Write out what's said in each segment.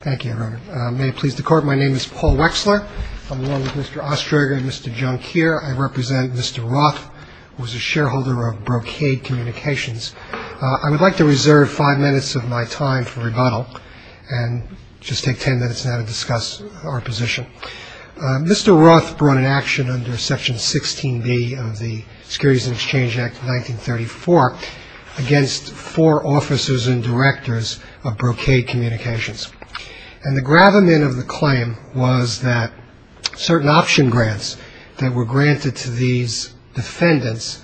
Thank you, everyone. May it please the Court, my name is Paul Wexler. I'm along with Mr. Ostroger and Mr. Junkier. I represent Mr. Roth, who is a shareholder of Brocade Communications. I would like to reserve five minutes of my time for rebuttal and just take ten minutes now to discuss our position. Mr. Roth brought an action under Section 16B of the Securities and Exchange Act of 1934 against four officers and directors of Brocade Communications. And the gravamen of the claim was that certain option grants that were granted to these defendants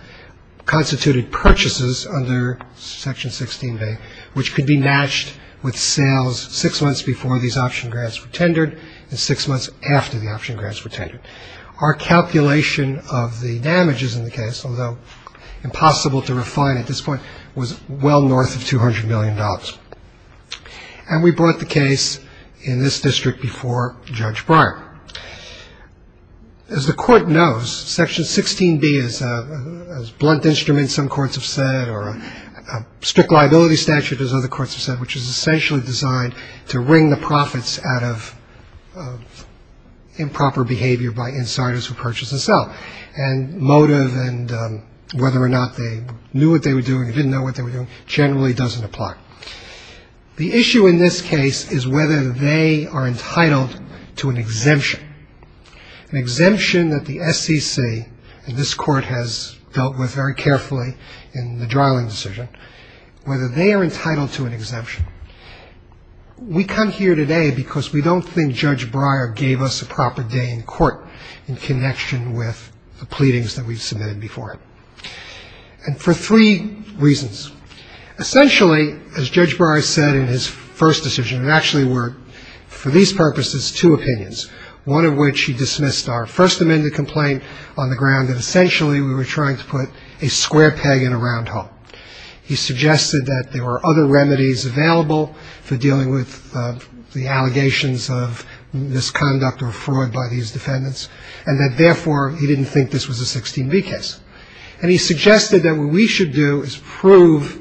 constituted purchases under Section 16B, which could be matched with sales six months before these option grants were tendered and six months after the option grants were tendered. Our calculation of the damages in the case, although impossible to refine at this point, was well north of $200 million. And we brought the case in this district before Judge Breyer. As the Court knows, Section 16B is a blunt instrument, some courts have said, or a strict liability statute, as other courts have said, which is essentially designed to wring the profits out of improper behavior by insiders who purchase and sell. And motive and whether or not they knew what they were doing or didn't know what they were doing generally doesn't apply. The issue in this case is whether they are entitled to an exemption, an exemption that the SEC, and this Court has dealt with very carefully in the Dryland decision, whether they are entitled to an exemption. We come here today because we don't think Judge Breyer gave us a proper day in court in connection with the pleadings that we've submitted before him. And for three reasons. Essentially, as Judge Breyer said in his first decision, it actually were, for these purposes, two opinions, one of which he dismissed our First Amendment complaint on the ground that essentially we were trying to put a square peg in a round hole. He suggested that there were other remedies available for dealing with the allegations of misconduct or fraud by these defendants and that therefore he didn't think this was a 16B case. And he suggested that what we should do is prove,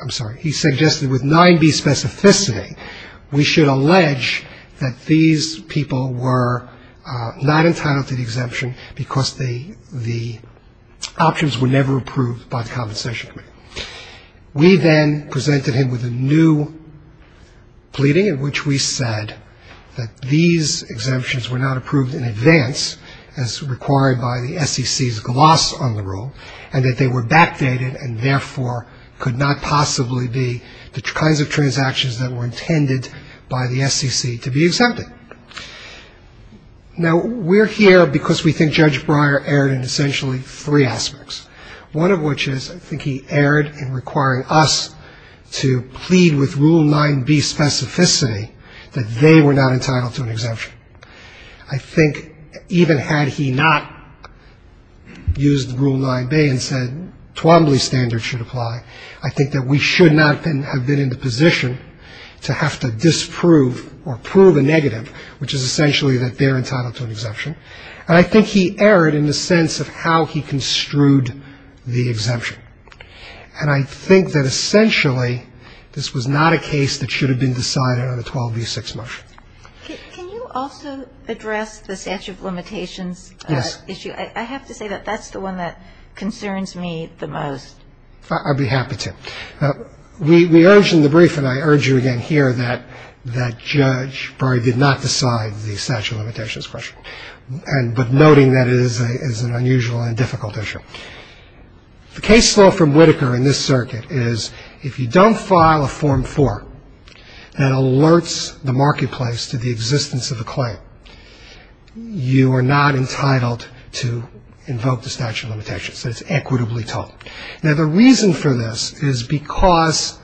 I'm sorry, he suggested with 9B specificity, we should allege that these people were not entitled to the exemption because the options were never approved by the Compensation Committee. We then presented him with a new pleading in which we said that these exemptions were not approved in advance as required by the SEC's gloss on the rule and that they were backdated and therefore could not possibly be the kinds of transactions that were intended by the SEC to be exempted. Now, we're here because we think Judge Breyer erred in essentially three aspects, one of which is I think he erred in requiring us to plead with Rule 9B specificity that they were not entitled to an exemption. I think even had he not used Rule 9B and said Twombly standard should apply, I think that we should not have been in the position to have to disprove or prove a negative, which is essentially that they're entitled to an exemption. And I think he erred in the sense of how he construed the exemption. And I think that essentially this was not a case that should have been decided on a 12B6 motion. Can you also address the statute of limitations issue? Yes. I have to say that that's the one that concerns me the most. I'd be happy to. We urge in the brief, and I urge you again here, that Judge Breyer did not decide the statute of limitations question, but noting that it is an unusual and difficult issue. The case law from Whitaker in this circuit is if you don't file a Form 4, that alerts the marketplace to the existence of a claim, you are not entitled to invoke the statute of limitations. That's equitably told. Now, the reason for this is because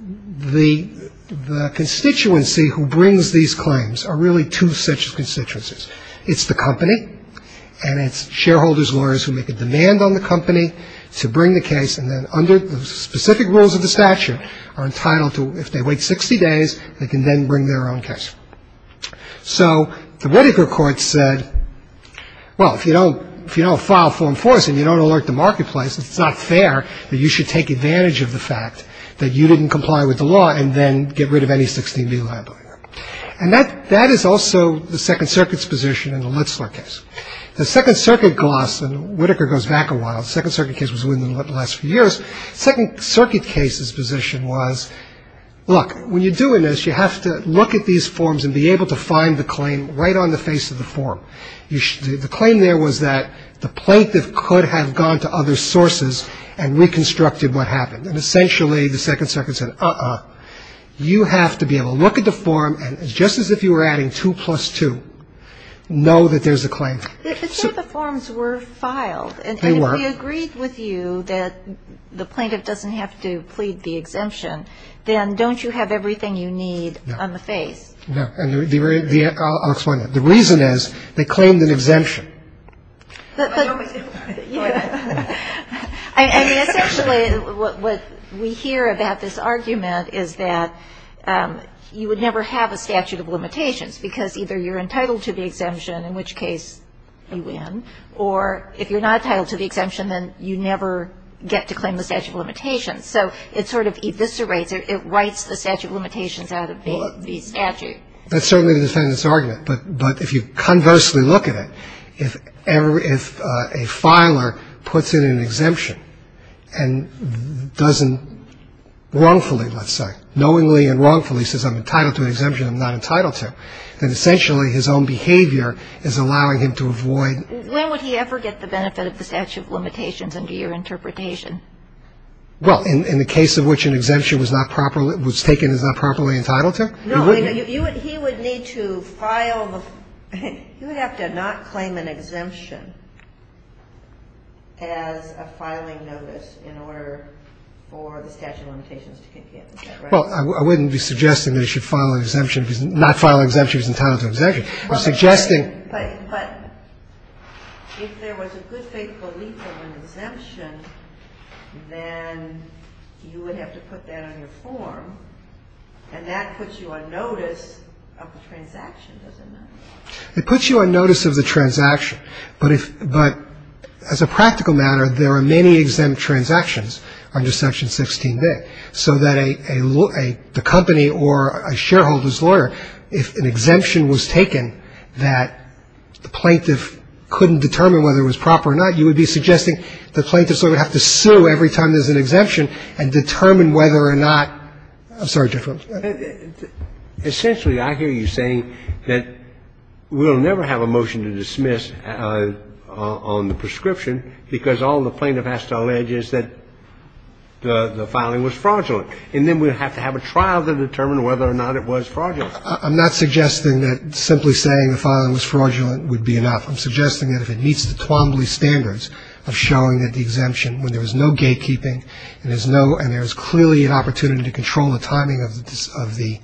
the constituency who brings these claims are really two such constituencies. It's the company, and it's shareholders, lawyers who make a demand on the company to bring the case, and then under the specific rules of the statute are entitled to, if they wait 60 days, they can then bring their own case. So the Whitaker court said, well, if you don't file Form 4s and you don't alert the marketplace, it's not fair that you should take advantage of the fact that you didn't comply with the law and then get rid of any 16B liability. And that is also the Second Circuit's position in the Litzler case. The Second Circuit gloss, and Whitaker goes back a while, the Second Circuit case was in the last few years, the Second Circuit case's position was, look, when you're doing this, you have to look at these forms and be able to find the claim right on the face of the form. The claim there was that the plaintiff could have gone to other sources and reconstructed what happened. And essentially the Second Circuit said, uh-uh, you have to be able to look at the form and just as if you were adding 2 plus 2, know that there's a claim. Kagan. It's not that the forms were filed. They weren't. And if we agreed with you that the plaintiff doesn't have to plead the exemption, then don't you have everything you need on the face? No. I'll explain that. The reason is they claimed an exemption. I mean, essentially what we hear about this argument is that you would never have a statute because either you're entitled to the exemption, in which case you win, or if you're not entitled to the exemption, then you never get to claim the statute of limitations. So it sort of eviscerates, it writes the statute of limitations out of the statute. That's certainly the defendant's argument, but if you conversely look at it, if a filer puts in an exemption and doesn't wrongfully, let's say, knowingly and wrongfully says I'm entitled to an exemption I'm not entitled to, then essentially his own behavior is allowing him to avoid. When would he ever get the benefit of the statute of limitations under your interpretation? Well, in the case in which an exemption was not properly, was taken as not properly entitled to? No. He would need to file the, you would have to not claim an exemption as a filing notice in order for the statute of limitations to get. Well, I wouldn't be suggesting that he should file an exemption because not filing an exemption is entitled to an exemption. I'm suggesting. But if there was a good faith belief of an exemption, then you would have to put that on your form, and that puts you on notice of the transaction, doesn't it? It puts you on notice of the transaction, but if, but as a practical matter, there are many exempt transactions under Section 16b, so that a company or a shareholder's lawyer, if an exemption was taken that the plaintiff couldn't determine whether it was proper or not, you would be suggesting the plaintiff sort of would have to sue every time there's an exemption and determine whether or not, I'm sorry, Judge, go ahead. Essentially, I hear you saying that we'll never have a motion to dismiss on the prescription because all the plaintiff has to allege is that the filing was fraudulent, and then we'll have to have a trial to determine whether or not it was fraudulent. I'm not suggesting that simply saying the filing was fraudulent would be enough. I'm suggesting that if it meets the Twombly standards of showing that the exemption, when there was no gatekeeping and there's no, and there's clearly an opportunity to control the timing of the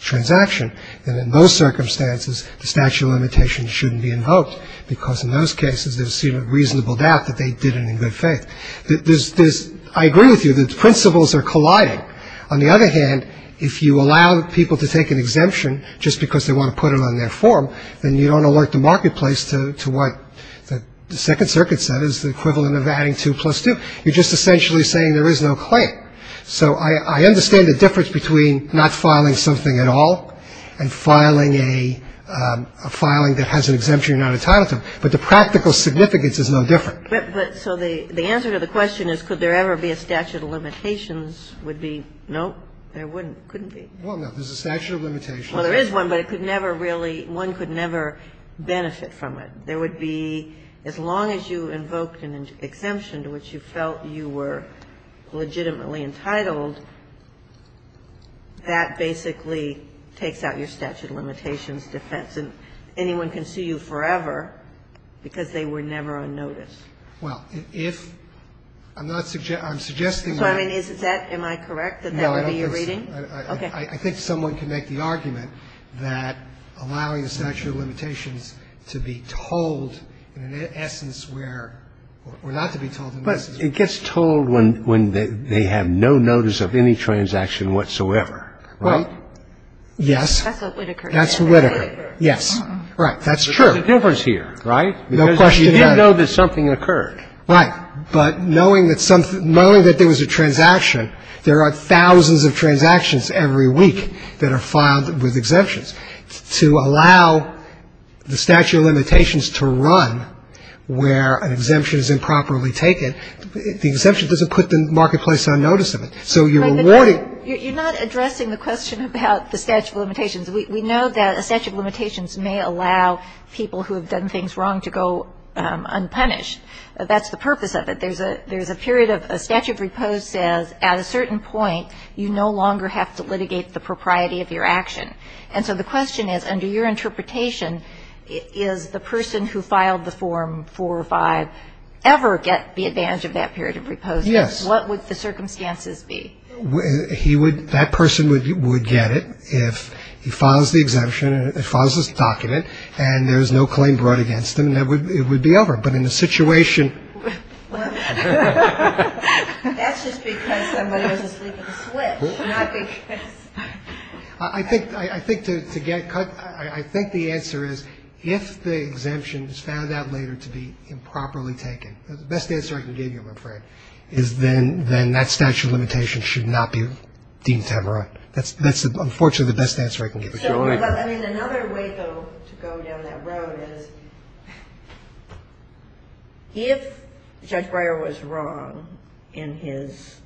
transaction, then in those circumstances, the statute of limitations shouldn't be invoked because in those cases, there's a reasonable doubt that they did it in good faith. There's, I agree with you, the principles are colliding. On the other hand, if you allow people to take an exemption just because they want to put it on their form, then you don't alert the marketplace to what the Second Circuit said is the equivalent of adding two plus two. You're just essentially saying there is no claim. So I understand the difference between not filing something at all and filing a, but the practical significance is no different. But so the answer to the question is could there ever be a statute of limitations would be no, there wouldn't, couldn't be. Well, no. There's a statute of limitations. Well, there is one, but it could never really, one could never benefit from it. There would be, as long as you invoked an exemption to which you felt you were legitimately entitled, that basically takes out your statute of limitations defense. And anyone can sue you forever because they were never on notice. Well, if, I'm not, I'm suggesting that. So I mean, is that, am I correct that that would be your reading? No, I don't think so. Okay. I think someone can make the argument that allowing the statute of limitations to be told in an essence where, or not to be told in an essence where. But it gets told when they have no notice of any transaction whatsoever, right? Right. Yes. That's what Whitaker said. That's what Whitaker. Yes. Right. That's true. There's a difference here, right? No question. Because you do know that something occurred. Right. But knowing that something, knowing that there was a transaction, there are thousands of transactions every week that are filed with exemptions. To allow the statute of limitations to run where an exemption is improperly taken, the exemption doesn't put the marketplace on notice of it. So you're rewarding. You're not addressing the question about the statute of limitations. We know that a statute of limitations may allow people who have done things wrong to go unpunished. That's the purpose of it. There's a period of a statute of repose says at a certain point you no longer have to litigate the propriety of your action. And so the question is, under your interpretation, is the person who filed the form 4 or 5 ever get the advantage of that period of repose? Yes. What would the circumstances be? He would, that person would get it if he files the exemption and files this document and there's no claim brought against him, it would be over. But in the situation. That's just because somebody was asleep at the switch, not because. I think to get, I think the answer is if the exemption is found out later to be improperly then that statute of limitations should not be deemed to have a right. That's unfortunately the best answer I can give. Another way, though, to go down that road is if Judge Breyer was wrong in his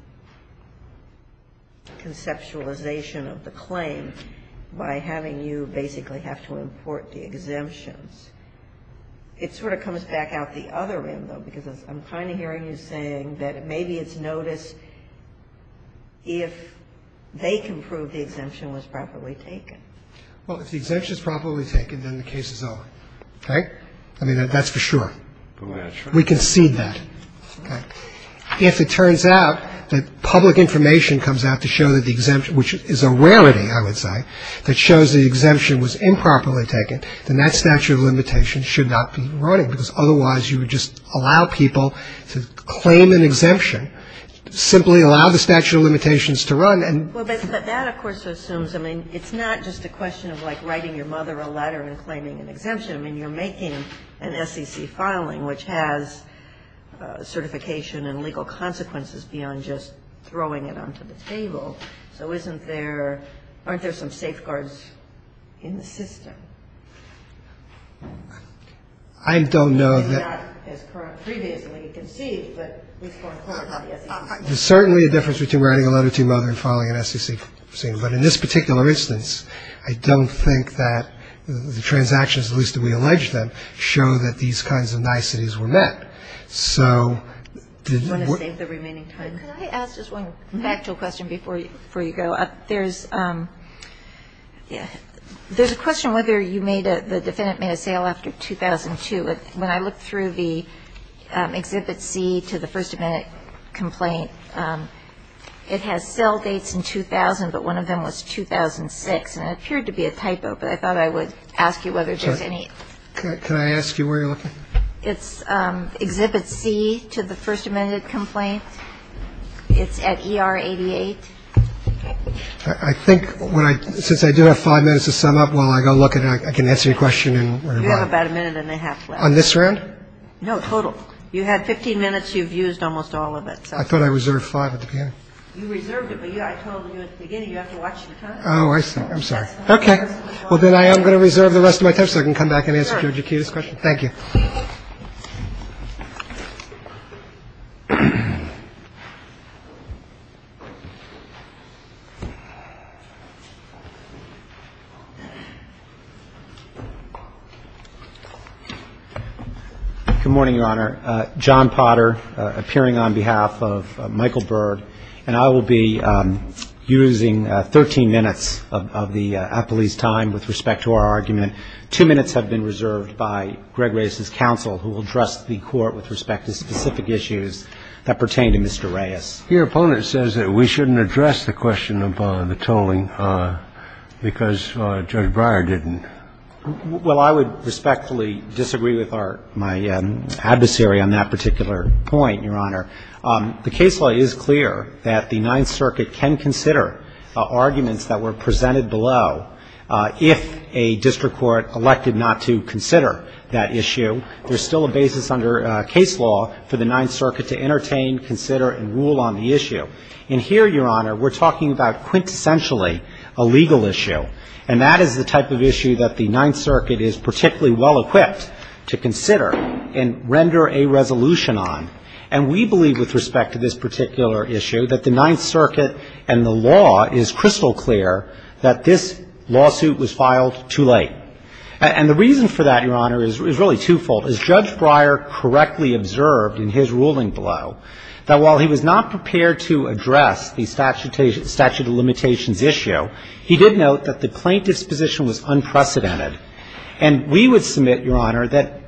conceptualization of the claim by having you basically have to import the exemptions, it sort of comes back out the other end, though, because I'm kind of hearing you saying that maybe it's noticed if they can prove the exemption was properly taken. Well, if the exemption is properly taken, then the case is over. Okay? I mean, that's for sure. Go ahead. We concede that. Okay. If it turns out that public information comes out to show that the exemption, which is a rarity, I would say, that shows the exemption was improperly taken, then that statute of limitations should not be running because otherwise you would just allow people to claim an exemption, simply allow the statute of limitations to run and Well, but that, of course, assumes, I mean, it's not just a question of like writing your mother a letter and claiming an exemption. I mean, you're making an SEC filing which has certification and legal consequences beyond just throwing it onto the table. I don't know that Not as previously conceived, but at least more important than the SEC. There's certainly a difference between writing a letter to your mother and filing an SEC. But in this particular instance, I don't think that the transactions, at least that we allege them, show that these kinds of niceties were met. So Do you want to save the remaining time? Can I ask just one factual question before you go? There's a question whether the defendant made a sale after 2002. When I looked through the Exhibit C to the First Amendment complaint, it has sale dates in 2000, but one of them was 2006. And it appeared to be a typo, but I thought I would ask you whether there's any Can I ask you where you're looking? It's Exhibit C to the First Amendment complaint. It's at ER 88. I think since I do have five minutes to sum up, while I go look at it, I can answer your question. You have about a minute and a half left. On this round? No, total. You had 15 minutes. You've used almost all of it. I thought I reserved five at the beginning. You reserved it, but I told you at the beginning you have to watch your time. Oh, I'm sorry. Okay. Well, then I am going to reserve the rest of my time so I can come back and answer your question. Thank you. Good morning, Your Honor. John Potter, appearing on behalf of Michael Byrd, and I will be using 13 minutes of the appellee's time with respect to our argument. Two minutes have been reserved by Greg Reyes's counsel, who will address the Court with respect to specific issues that pertain to Mr. Reyes. You addressed the question of the tolling because Judge Breyer didn't. Well, I would respectfully disagree with my adversary on that particular point, Your Honor. The case law is clear that the Ninth Circuit can consider arguments that were presented below. If a district court elected not to consider that issue, there's still a basis under case law for the Ninth Circuit to entertain, consider, and rule on the issue. And here, Your Honor, we're talking about quintessentially a legal issue. And that is the type of issue that the Ninth Circuit is particularly well-equipped to consider and render a resolution on. And we believe with respect to this particular issue that the Ninth Circuit and the law is crystal clear that this lawsuit was filed too late. And the reason for that, Your Honor, is really twofold. As Judge Breyer correctly observed in his ruling below, that while he was not prepared to address the statute of limitations issue, he did note that the plaintiff's position was unprecedented. And we would submit, Your Honor, that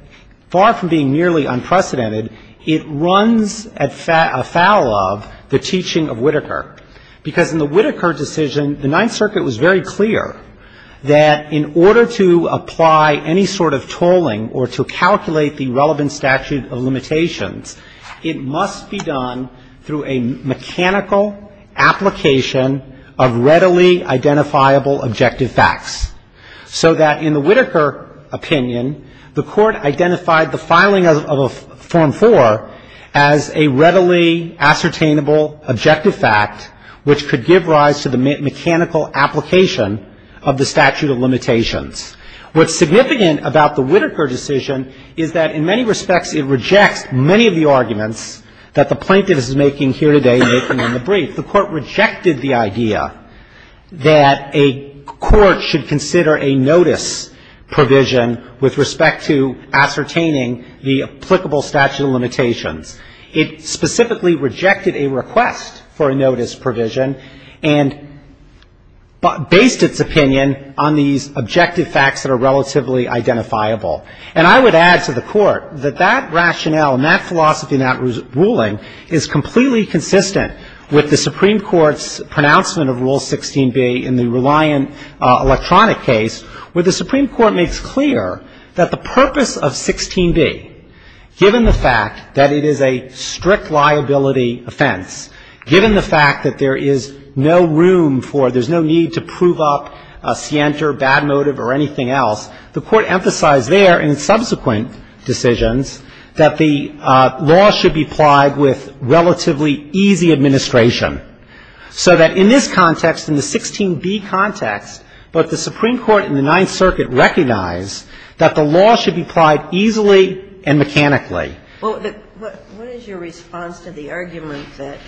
far from being nearly unprecedented, it runs afoul of the teaching of Whitaker. Because in the Whitaker decision, the Ninth Circuit was very clear that in order to apply any sort of tolling or to calculate the relevant statute of limitations, it must be done through a mechanical application of readily identifiable objective facts, so that in the Whitaker opinion, the Court identified the filing of a Form IV as a readily ascertainable objective fact which could give rise to the mechanical application of the statute of limitations. What's significant about the Whitaker decision is that in many respects it rejects many of the arguments that the plaintiff is making here today, making in the brief. The Court rejected the idea that a court should consider a notice provision with respect to ascertaining the applicable statute of limitations. It specifically rejected a request for a notice provision and based its opinion on these objective facts that are relatively identifiable. And I would add to the Court that that rationale and that philosophy and that ruling is completely consistent with the Supreme Court's pronouncement of Rule 16b in the Reliant Electronic case, where the Supreme Court makes clear that the purpose of 16b, given the fact that it is a strict liability offense, given the fact that there is no room for, there's no need to prove up a scienter, bad motive or anything else, the Court emphasized there in subsequent decisions that the law should be applied with relatively easy administration, so that in this context, in the 16b context, but the Supreme Court in the Ninth Circuit recognized that the law should be applied easily and mechanically. Well, what is your response to the argument that,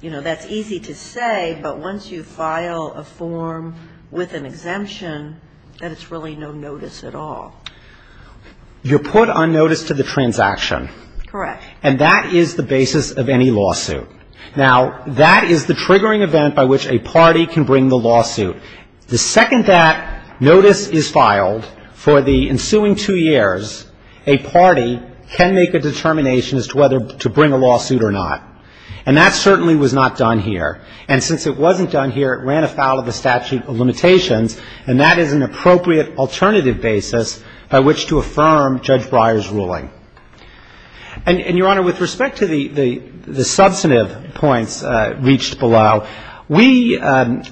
you know, that's easy to say, but once you file a form with an exemption, that it's really no notice at all? You put on notice to the transaction. Correct. And that is the basis of any lawsuit. Now, that is the triggering event by which a party can bring the lawsuit. The second that notice is filed for the ensuing two years, a party can make a determination as to whether to bring a lawsuit or not. And that certainly was not done here. And since it wasn't done here, it ran afoul of the statute of limitations, and that is an appropriate alternative basis by which to affirm Judge Breyer's ruling. And, Your Honor, with respect to the substantive points reached below, we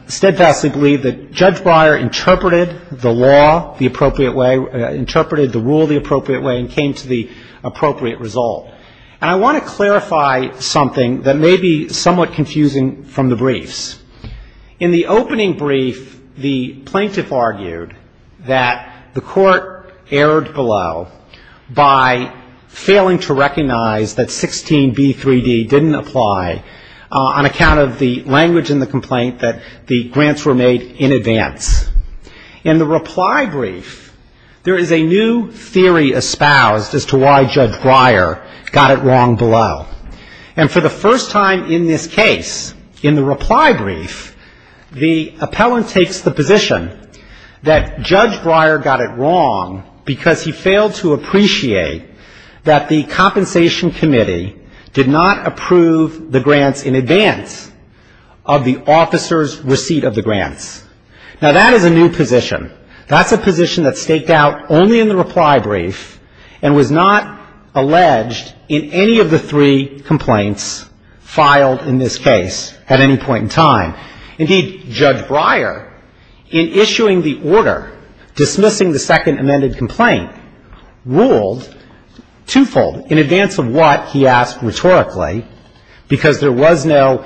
steadfastly believe that Judge Breyer interpreted the law the appropriate way, interpreted the rule the appropriate way, and came to the appropriate result. And I want to clarify something that may be somewhat confusing from the briefs. In the opening brief, the plaintiff argued that the Court erred below by failing to recognize that 16b3d didn't apply on account of the language in the complaint that the grants were made in advance. In the reply brief, there is a new theory espoused as to why Judge Breyer got it wrong below. And for the first time in this case, in the reply brief, the appellant takes the position that Judge Breyer got it wrong because he failed to appreciate that the compensation committee did not approve the grants in advance of the officer's receipt of the grants. Now, that is a new position. That's a position that staked out only in the reply brief and was not alleged in any of the three complaints Indeed, Judge Breyer, in issuing the order dismissing the second amended complaint, ruled twofold. In advance of what, he asked rhetorically, because there was no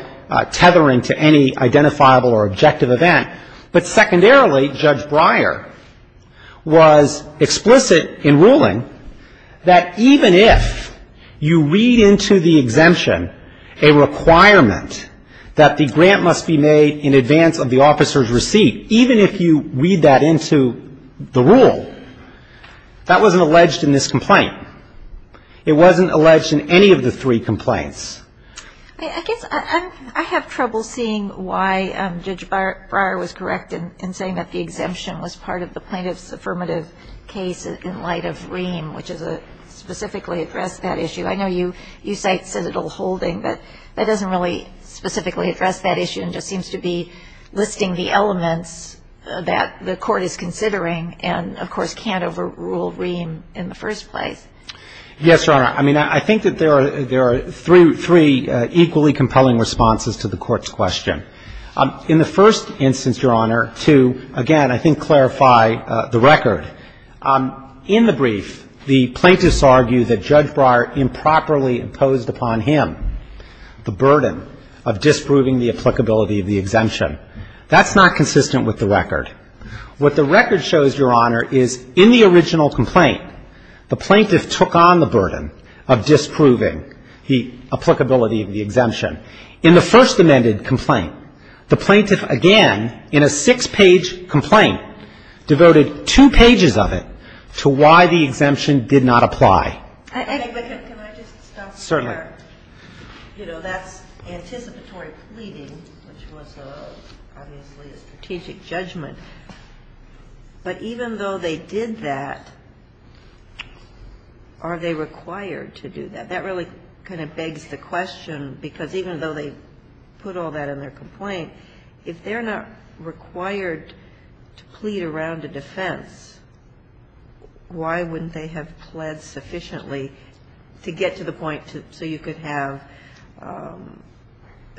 tethering to any identifiable or objective event. But secondarily, Judge Breyer was explicit in ruling that even if you read into the exemption a requirement that the grant must be made in advance of the officer's receipt, even if you read that into the rule, that wasn't alleged in this complaint. It wasn't alleged in any of the three complaints. I guess I have trouble seeing why Judge Breyer was correct in saying that the exemption was part of the plaintiff's affirmative case in light of Ream, which specifically addressed that issue. I know you cite citadel holding, but that doesn't really specifically address that issue and just seems to be listing the elements that the Court is considering and, of course, can't overrule Ream in the first place. Yes, Your Honor. I mean, I think that there are three equally compelling responses to the Court's question. In the first instance, Your Honor, to, again, I think clarify the record. In the brief, the plaintiffs argue that Judge Breyer improperly imposed upon him the burden of disproving the applicability of the exemption. That's not consistent with the record. What the record shows, Your Honor, is in the original complaint, the plaintiff took on the burden of disproving the applicability of the exemption. In the first amended complaint, the plaintiff, again, in a six-page complaint, devoted two pages of it to why the exemption did not apply. I think I can just stop there. Certainly. You know, that's anticipatory pleading, which was obviously a strategic judgment. But even though they did that, are they required to do that? That really kind of begs the question, because even though they put all that in their complaint, if they're not required to plead around a defense, why wouldn't they have pled sufficiently to get to the point so you could have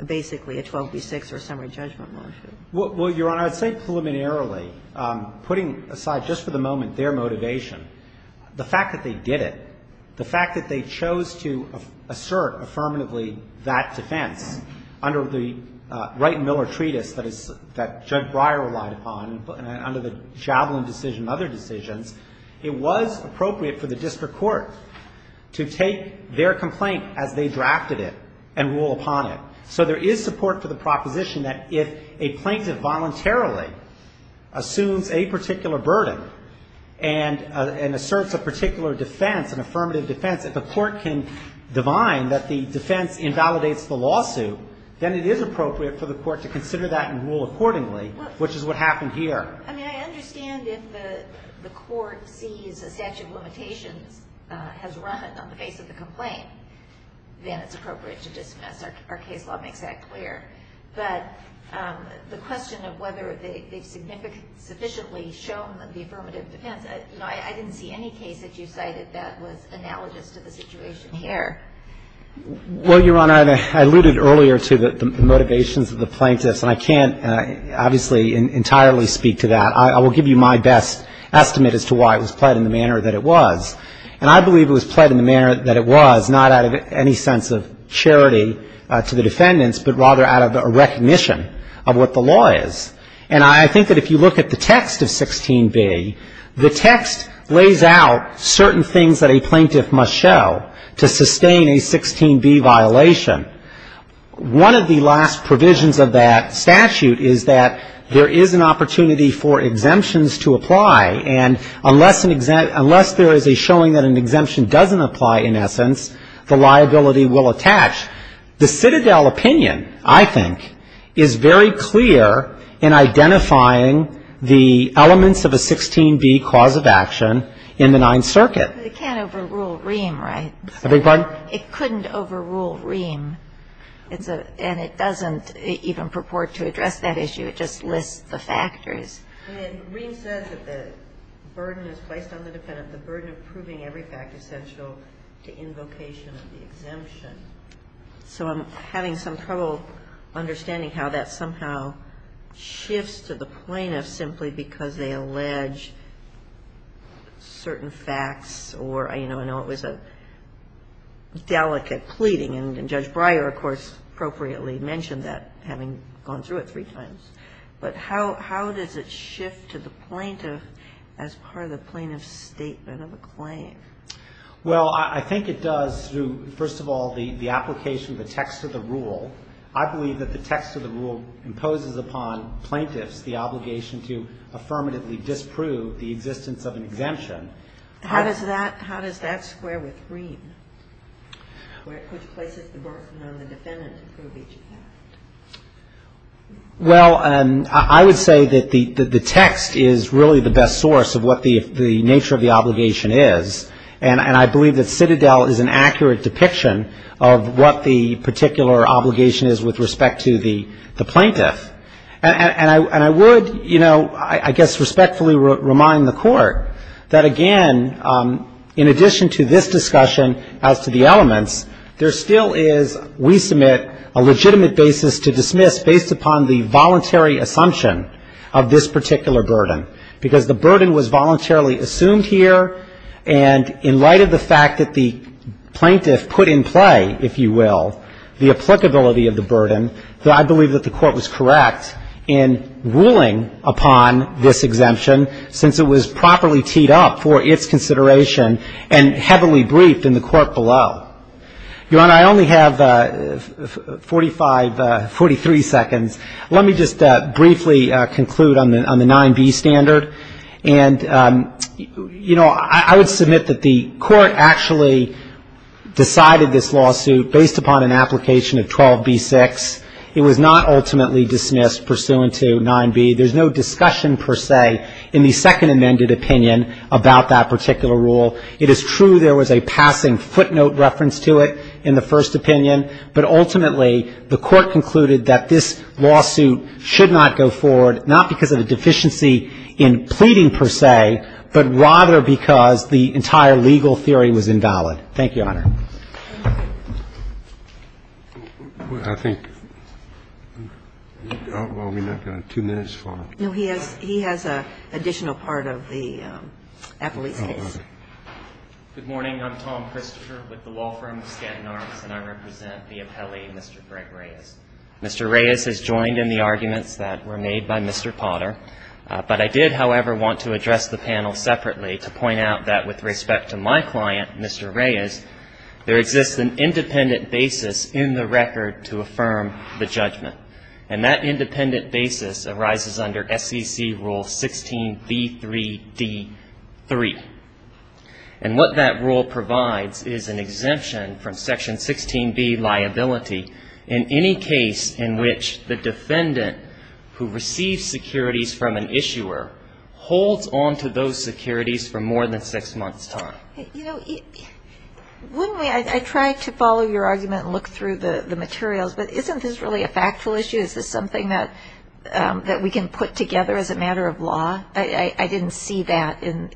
basically a 12 v. 6 or a summary judgment motion? Well, Your Honor, I would say preliminarily, putting aside just for the moment their motivation, the fact that they did it, the fact that they chose to assert affirmatively that defense under the Wright and Miller Treatise that Judge Breyer relied upon and under the Javelin decision and other decisions, it was appropriate for the district court to take their complaint as they drafted it and rule upon it. So there is support for the proposition that if a plaintiff voluntarily assumes a particular burden and asserts a particular defense, an affirmative defense, if the court can divine that the defense invalidates the lawsuit, then it is appropriate for the court to consider that and rule accordingly, which is what happened here. I mean, I understand if the court sees a statute of limitations has run on the face of the complaint, then it's appropriate to dismiss. Our case law makes that clear. But the question of whether they've sufficiently shown the affirmative defense, I didn't see any case that you cited that was analogous to the situation here. Well, Your Honor, I alluded earlier to the motivations of the plaintiffs, and I can't obviously entirely speak to that. I will give you my best estimate as to why it was played in the manner that it was. And I believe it was played in the manner that it was, not out of any sense of charity to the defendants, but rather out of a recognition of what the law is. And I think that if you look at the text of 16b, the text lays out certain things that a plaintiff must show to sustain a 16b violation. One of the last provisions of that statute is that there is an opportunity for exemptions to apply, and unless there is a showing that an exemption doesn't apply, in essence, the liability will attach. The Citadel opinion, I think, is very clear in identifying the elements of a 16b cause of action in the Ninth Circuit. But it can't overrule Ream, right? I beg your pardon? It couldn't overrule Ream. And it doesn't even purport to address that issue. It just lists the factors. And Ream says that the burden is placed on the defendant, the burden of proving every fact essential to invocation of the exemption. So I'm having some trouble understanding how that somehow shifts to the plaintiff simply because they allege certain facts or, you know, I know it was a delicate pleading, and Judge Breyer, of course, appropriately mentioned that, having gone through it three times. But how does it shift to the plaintiff as part of the plaintiff's statement of a claim? Well, I think it does through, first of all, the application of the text of the rule. I believe that the text of the rule imposes upon plaintiffs the obligation to affirmatively disprove the existence of an exemption. How does that square with Ream, which places the burden on the defendant to prove each fact? Well, I would say that the text is really the best source of what the nature of the obligation is. And I believe that Citadel is an accurate depiction of what the particular obligation is with respect to the plaintiff. And I would, you know, I guess respectfully remind the Court that, again, in addition to this discussion as to the elements, there still is, we submit, a legitimate basis to dismiss based upon the voluntary assumption of this particular burden, because the burden was voluntarily assumed here. And in light of the fact that the plaintiff put in play, if you will, the applicability of the burden, I believe that the Court was correct in ruling upon this exemption since it was properly teed up for its consideration and heavily briefed in the court below. Your Honor, I only have 45, 43 seconds. Let me just briefly conclude on the 9b standard. And, you know, I would submit that the Court actually decided this lawsuit based upon an application of 12b-6. It was not ultimately dismissed pursuant to 9b. There's no discussion, per se, in the Second Amended opinion about that particular rule. It is true there was a passing footnote reference to it in the First Opinion, but ultimately the Court concluded that this lawsuit should not go forward, not because of a deficiency in pleading, per se, but rather because the entire legal theory Thank you, Your Honor. I think, well, we've not got two minutes for him. No, he has an additional part of the appellee's case. Good morning. I'm Tom Christopher with the law firm of Scanton Arms, and I represent the appellee, Mr. Greg Reyes. Mr. Reyes has joined in the arguments that were made by Mr. Potter, but I did, however, want to address the panel separately to point out that with respect to my client, Mr. Reyes, there exists an independent basis in the record to affirm the judgment. And that independent basis arises under SEC Rule 16b-3d-3. And what that rule provides is an exemption from Section 16b, liability, in any case in which the defendant who receives securities from an issuer holds on to those securities for more than six months' time. Wouldn't we, I tried to follow your argument and look through the materials, but isn't this really a factual issue? Is this something that we can put together as a matter of law? I didn't see that in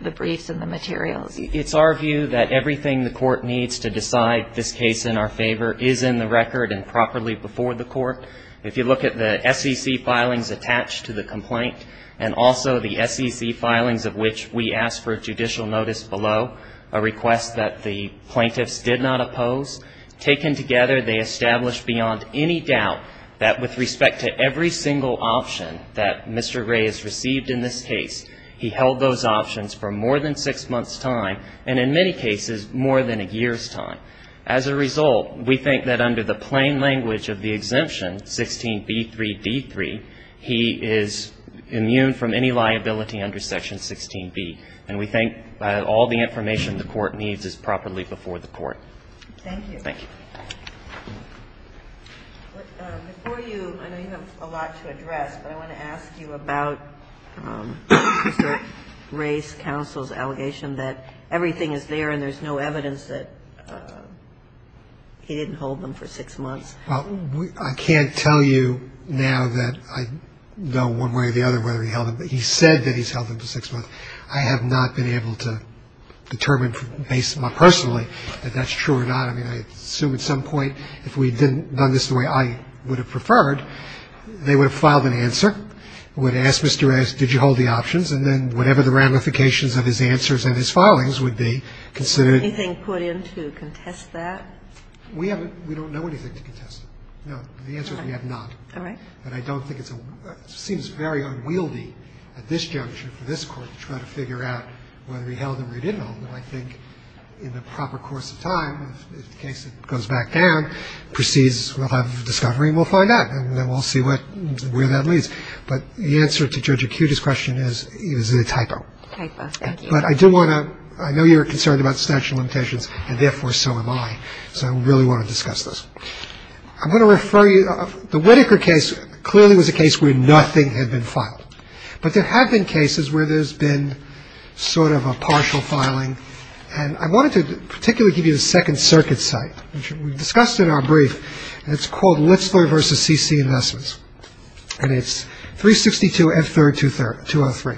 the briefs and the materials. It's our view that everything the Court needs to decide this case in our favor is in the record and properly before the Court. If you look at the SEC filings attached to the complaint, and also the SEC filings of which we asked for judicial notice below, a request that the plaintiffs did not oppose, taken together, they establish beyond any doubt that with respect to every single option that Mr. Reyes received in this case, he held those options for more than six months' time, and in many cases, more than a year's time. As a result, we think that under the plain language of the exemption, 16b-3d-3, he is immune from any liability under Section 16b. And we think all the information the Court needs is properly before the Court. Thank you. Before you, I know you have a lot to address, but I want to ask you about Mr. Reyes' counsel's allegation that everything is there and there's no evidence that he didn't hold them for six months. Well, I can't tell you now that I know one way or the other whether he held them. But he said that he's held them for six months. I have not been able to determine based more personally that that's true or not. I mean, I assume at some point, if we had done this the way I would have preferred, they would have filed an answer, would have asked Mr. Reyes, did you hold the options, and then whatever the ramifications of his answers and his filings would be considered. Anything put in to contest that? We haven't. We don't know anything to contest it. No. The answer is we have not. All right. So there's a question about whether he held them or he didn't hold them. And I don't think it's a seems very unwieldy at this juncture for this Court to try to figure out whether he held them or he didn't hold them. I think in the proper course of time, if the case goes back down, proceeds will have discovery and will find out, and then we'll see where that leads. But the answer to Judge Acuti's question is a typo. A typo. Thank you. But I do want to, I know you're concerned about statute of limitations, and therefore so am I. So I really want to discuss this. I'm going to refer you, the Whitaker case clearly was a case where nothing had been filed. But there have been cases where there's been sort of a partial filing. And I wanted to particularly give you the Second Circuit's site, which we discussed in our brief. And it's called Litzler v. C.C. Investments. And it's 362 F. 3rd 203.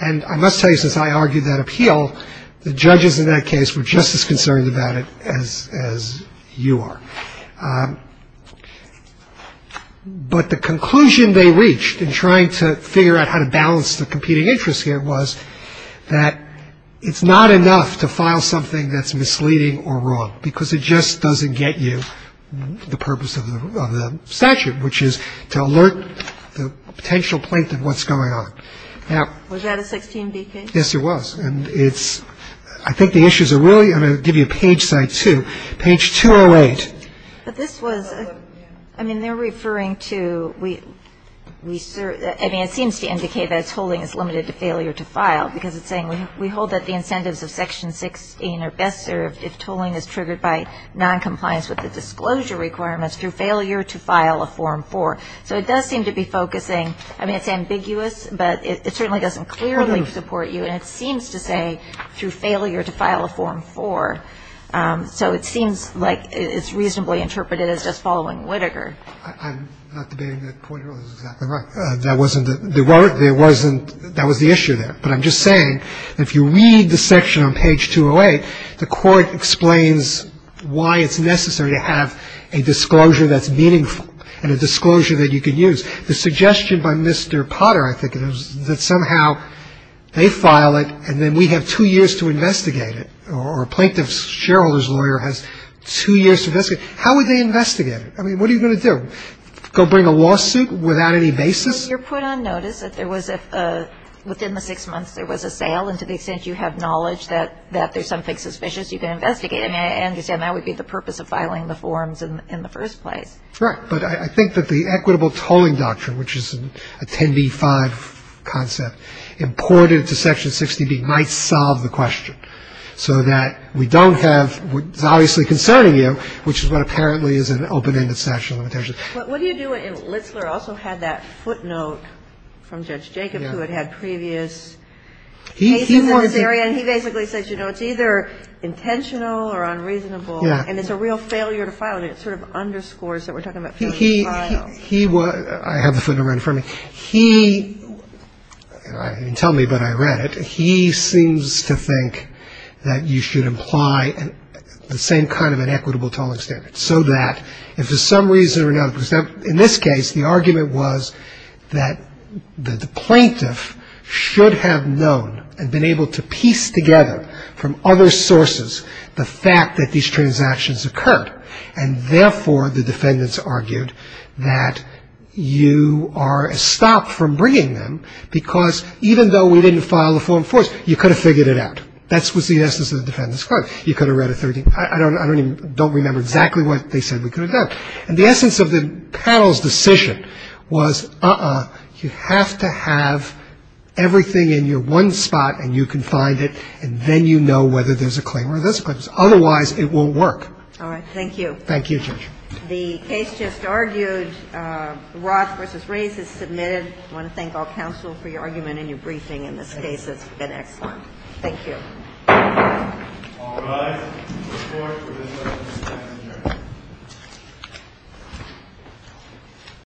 And I must tell you, since I argued that appeal, the judges in that case were just as concerned about it as you are. But the conclusion they reached in trying to figure out how to balance the competing interests here was that it's not enough to file something that's misleading or wrong, because it just doesn't get you the purpose of the statute, which is to alert the potential plaintiff what's going on. Was that a 16D case? Yes, it was. And it's, I think the issues are really, I'm going to give you a page site, too. Page 208. But this was, I mean, they're referring to, I mean, it seems to indicate that tolling is limited to failure to file, because it's saying we hold that the incentives of Section 16 are best served if tolling is triggered by noncompliance with the disclosure requirements through failure to file a Form 4. So it does seem to be focusing, I mean, it's ambiguous, but it certainly doesn't clearly support you. And it seems to say through failure to file a Form 4. So it seems like it's reasonably interpreted as just following Whitaker. I'm not debating that point. It was exactly right. That wasn't the word. There wasn't, that was the issue there. But I'm just saying that if you read the section on page 208, the Court explains why it's necessary to have a disclosure that's meaningful and a disclosure that you can use. The suggestion by Mr. Potter, I think, is that somehow they file it and then we have two years to investigate it, or a plaintiff's shareholder's lawyer has two years to investigate it. How would they investigate it? I mean, what are you going to do, go bring a lawsuit without any basis? Well, you're put on notice that there was a, within the six months there was a sale, and to the extent you have knowledge that there's something suspicious, you can investigate it. And I understand that would be the purpose of filing the forms in the first place. Right. But I think that the equitable tolling doctrine, which is a 10b-5 concept, imported to Section 60B might solve the question so that we don't have what's obviously concerning you, which is what apparently is an open-ended section on limitations. But what do you do when Litzler also had that footnote from Judge Jacobs who had had previous cases in this area, and he basically says, you know, it's either intentional or unreasonable, and it's a real failure to file it. And it sort of underscores that we're talking about failing to file. He was, I have the footnote right in front of me. He, you can tell me, but I read it. He seems to think that you should imply the same kind of an equitable tolling standard, so that if for some reason or another, because in this case, the argument was that the plaintiff should have known and been able to piece together from other sources the fact that these transactions occurred. And therefore, the defendants argued that you are stopped from bringing them because even though we didn't file the form first, you could have figured it out. That was the essence of the defendant's claim. You could have read it. I don't remember exactly what they said we could have done. And the essence of the panel's decision was, uh-uh, you have to have everything in your one spot, and you can find it, and then you know whether there's a claim or this claims. Otherwise, it won't work. Ginsburg. All right. Thank you. Roberts. Thank you, Judge. Ginsburg. The case just argued, Roth v. Rays, is submitted. I want to thank all counsel for your argument and your briefing in this case. It's been excellent. Thank you. All rise. Court is adjourned.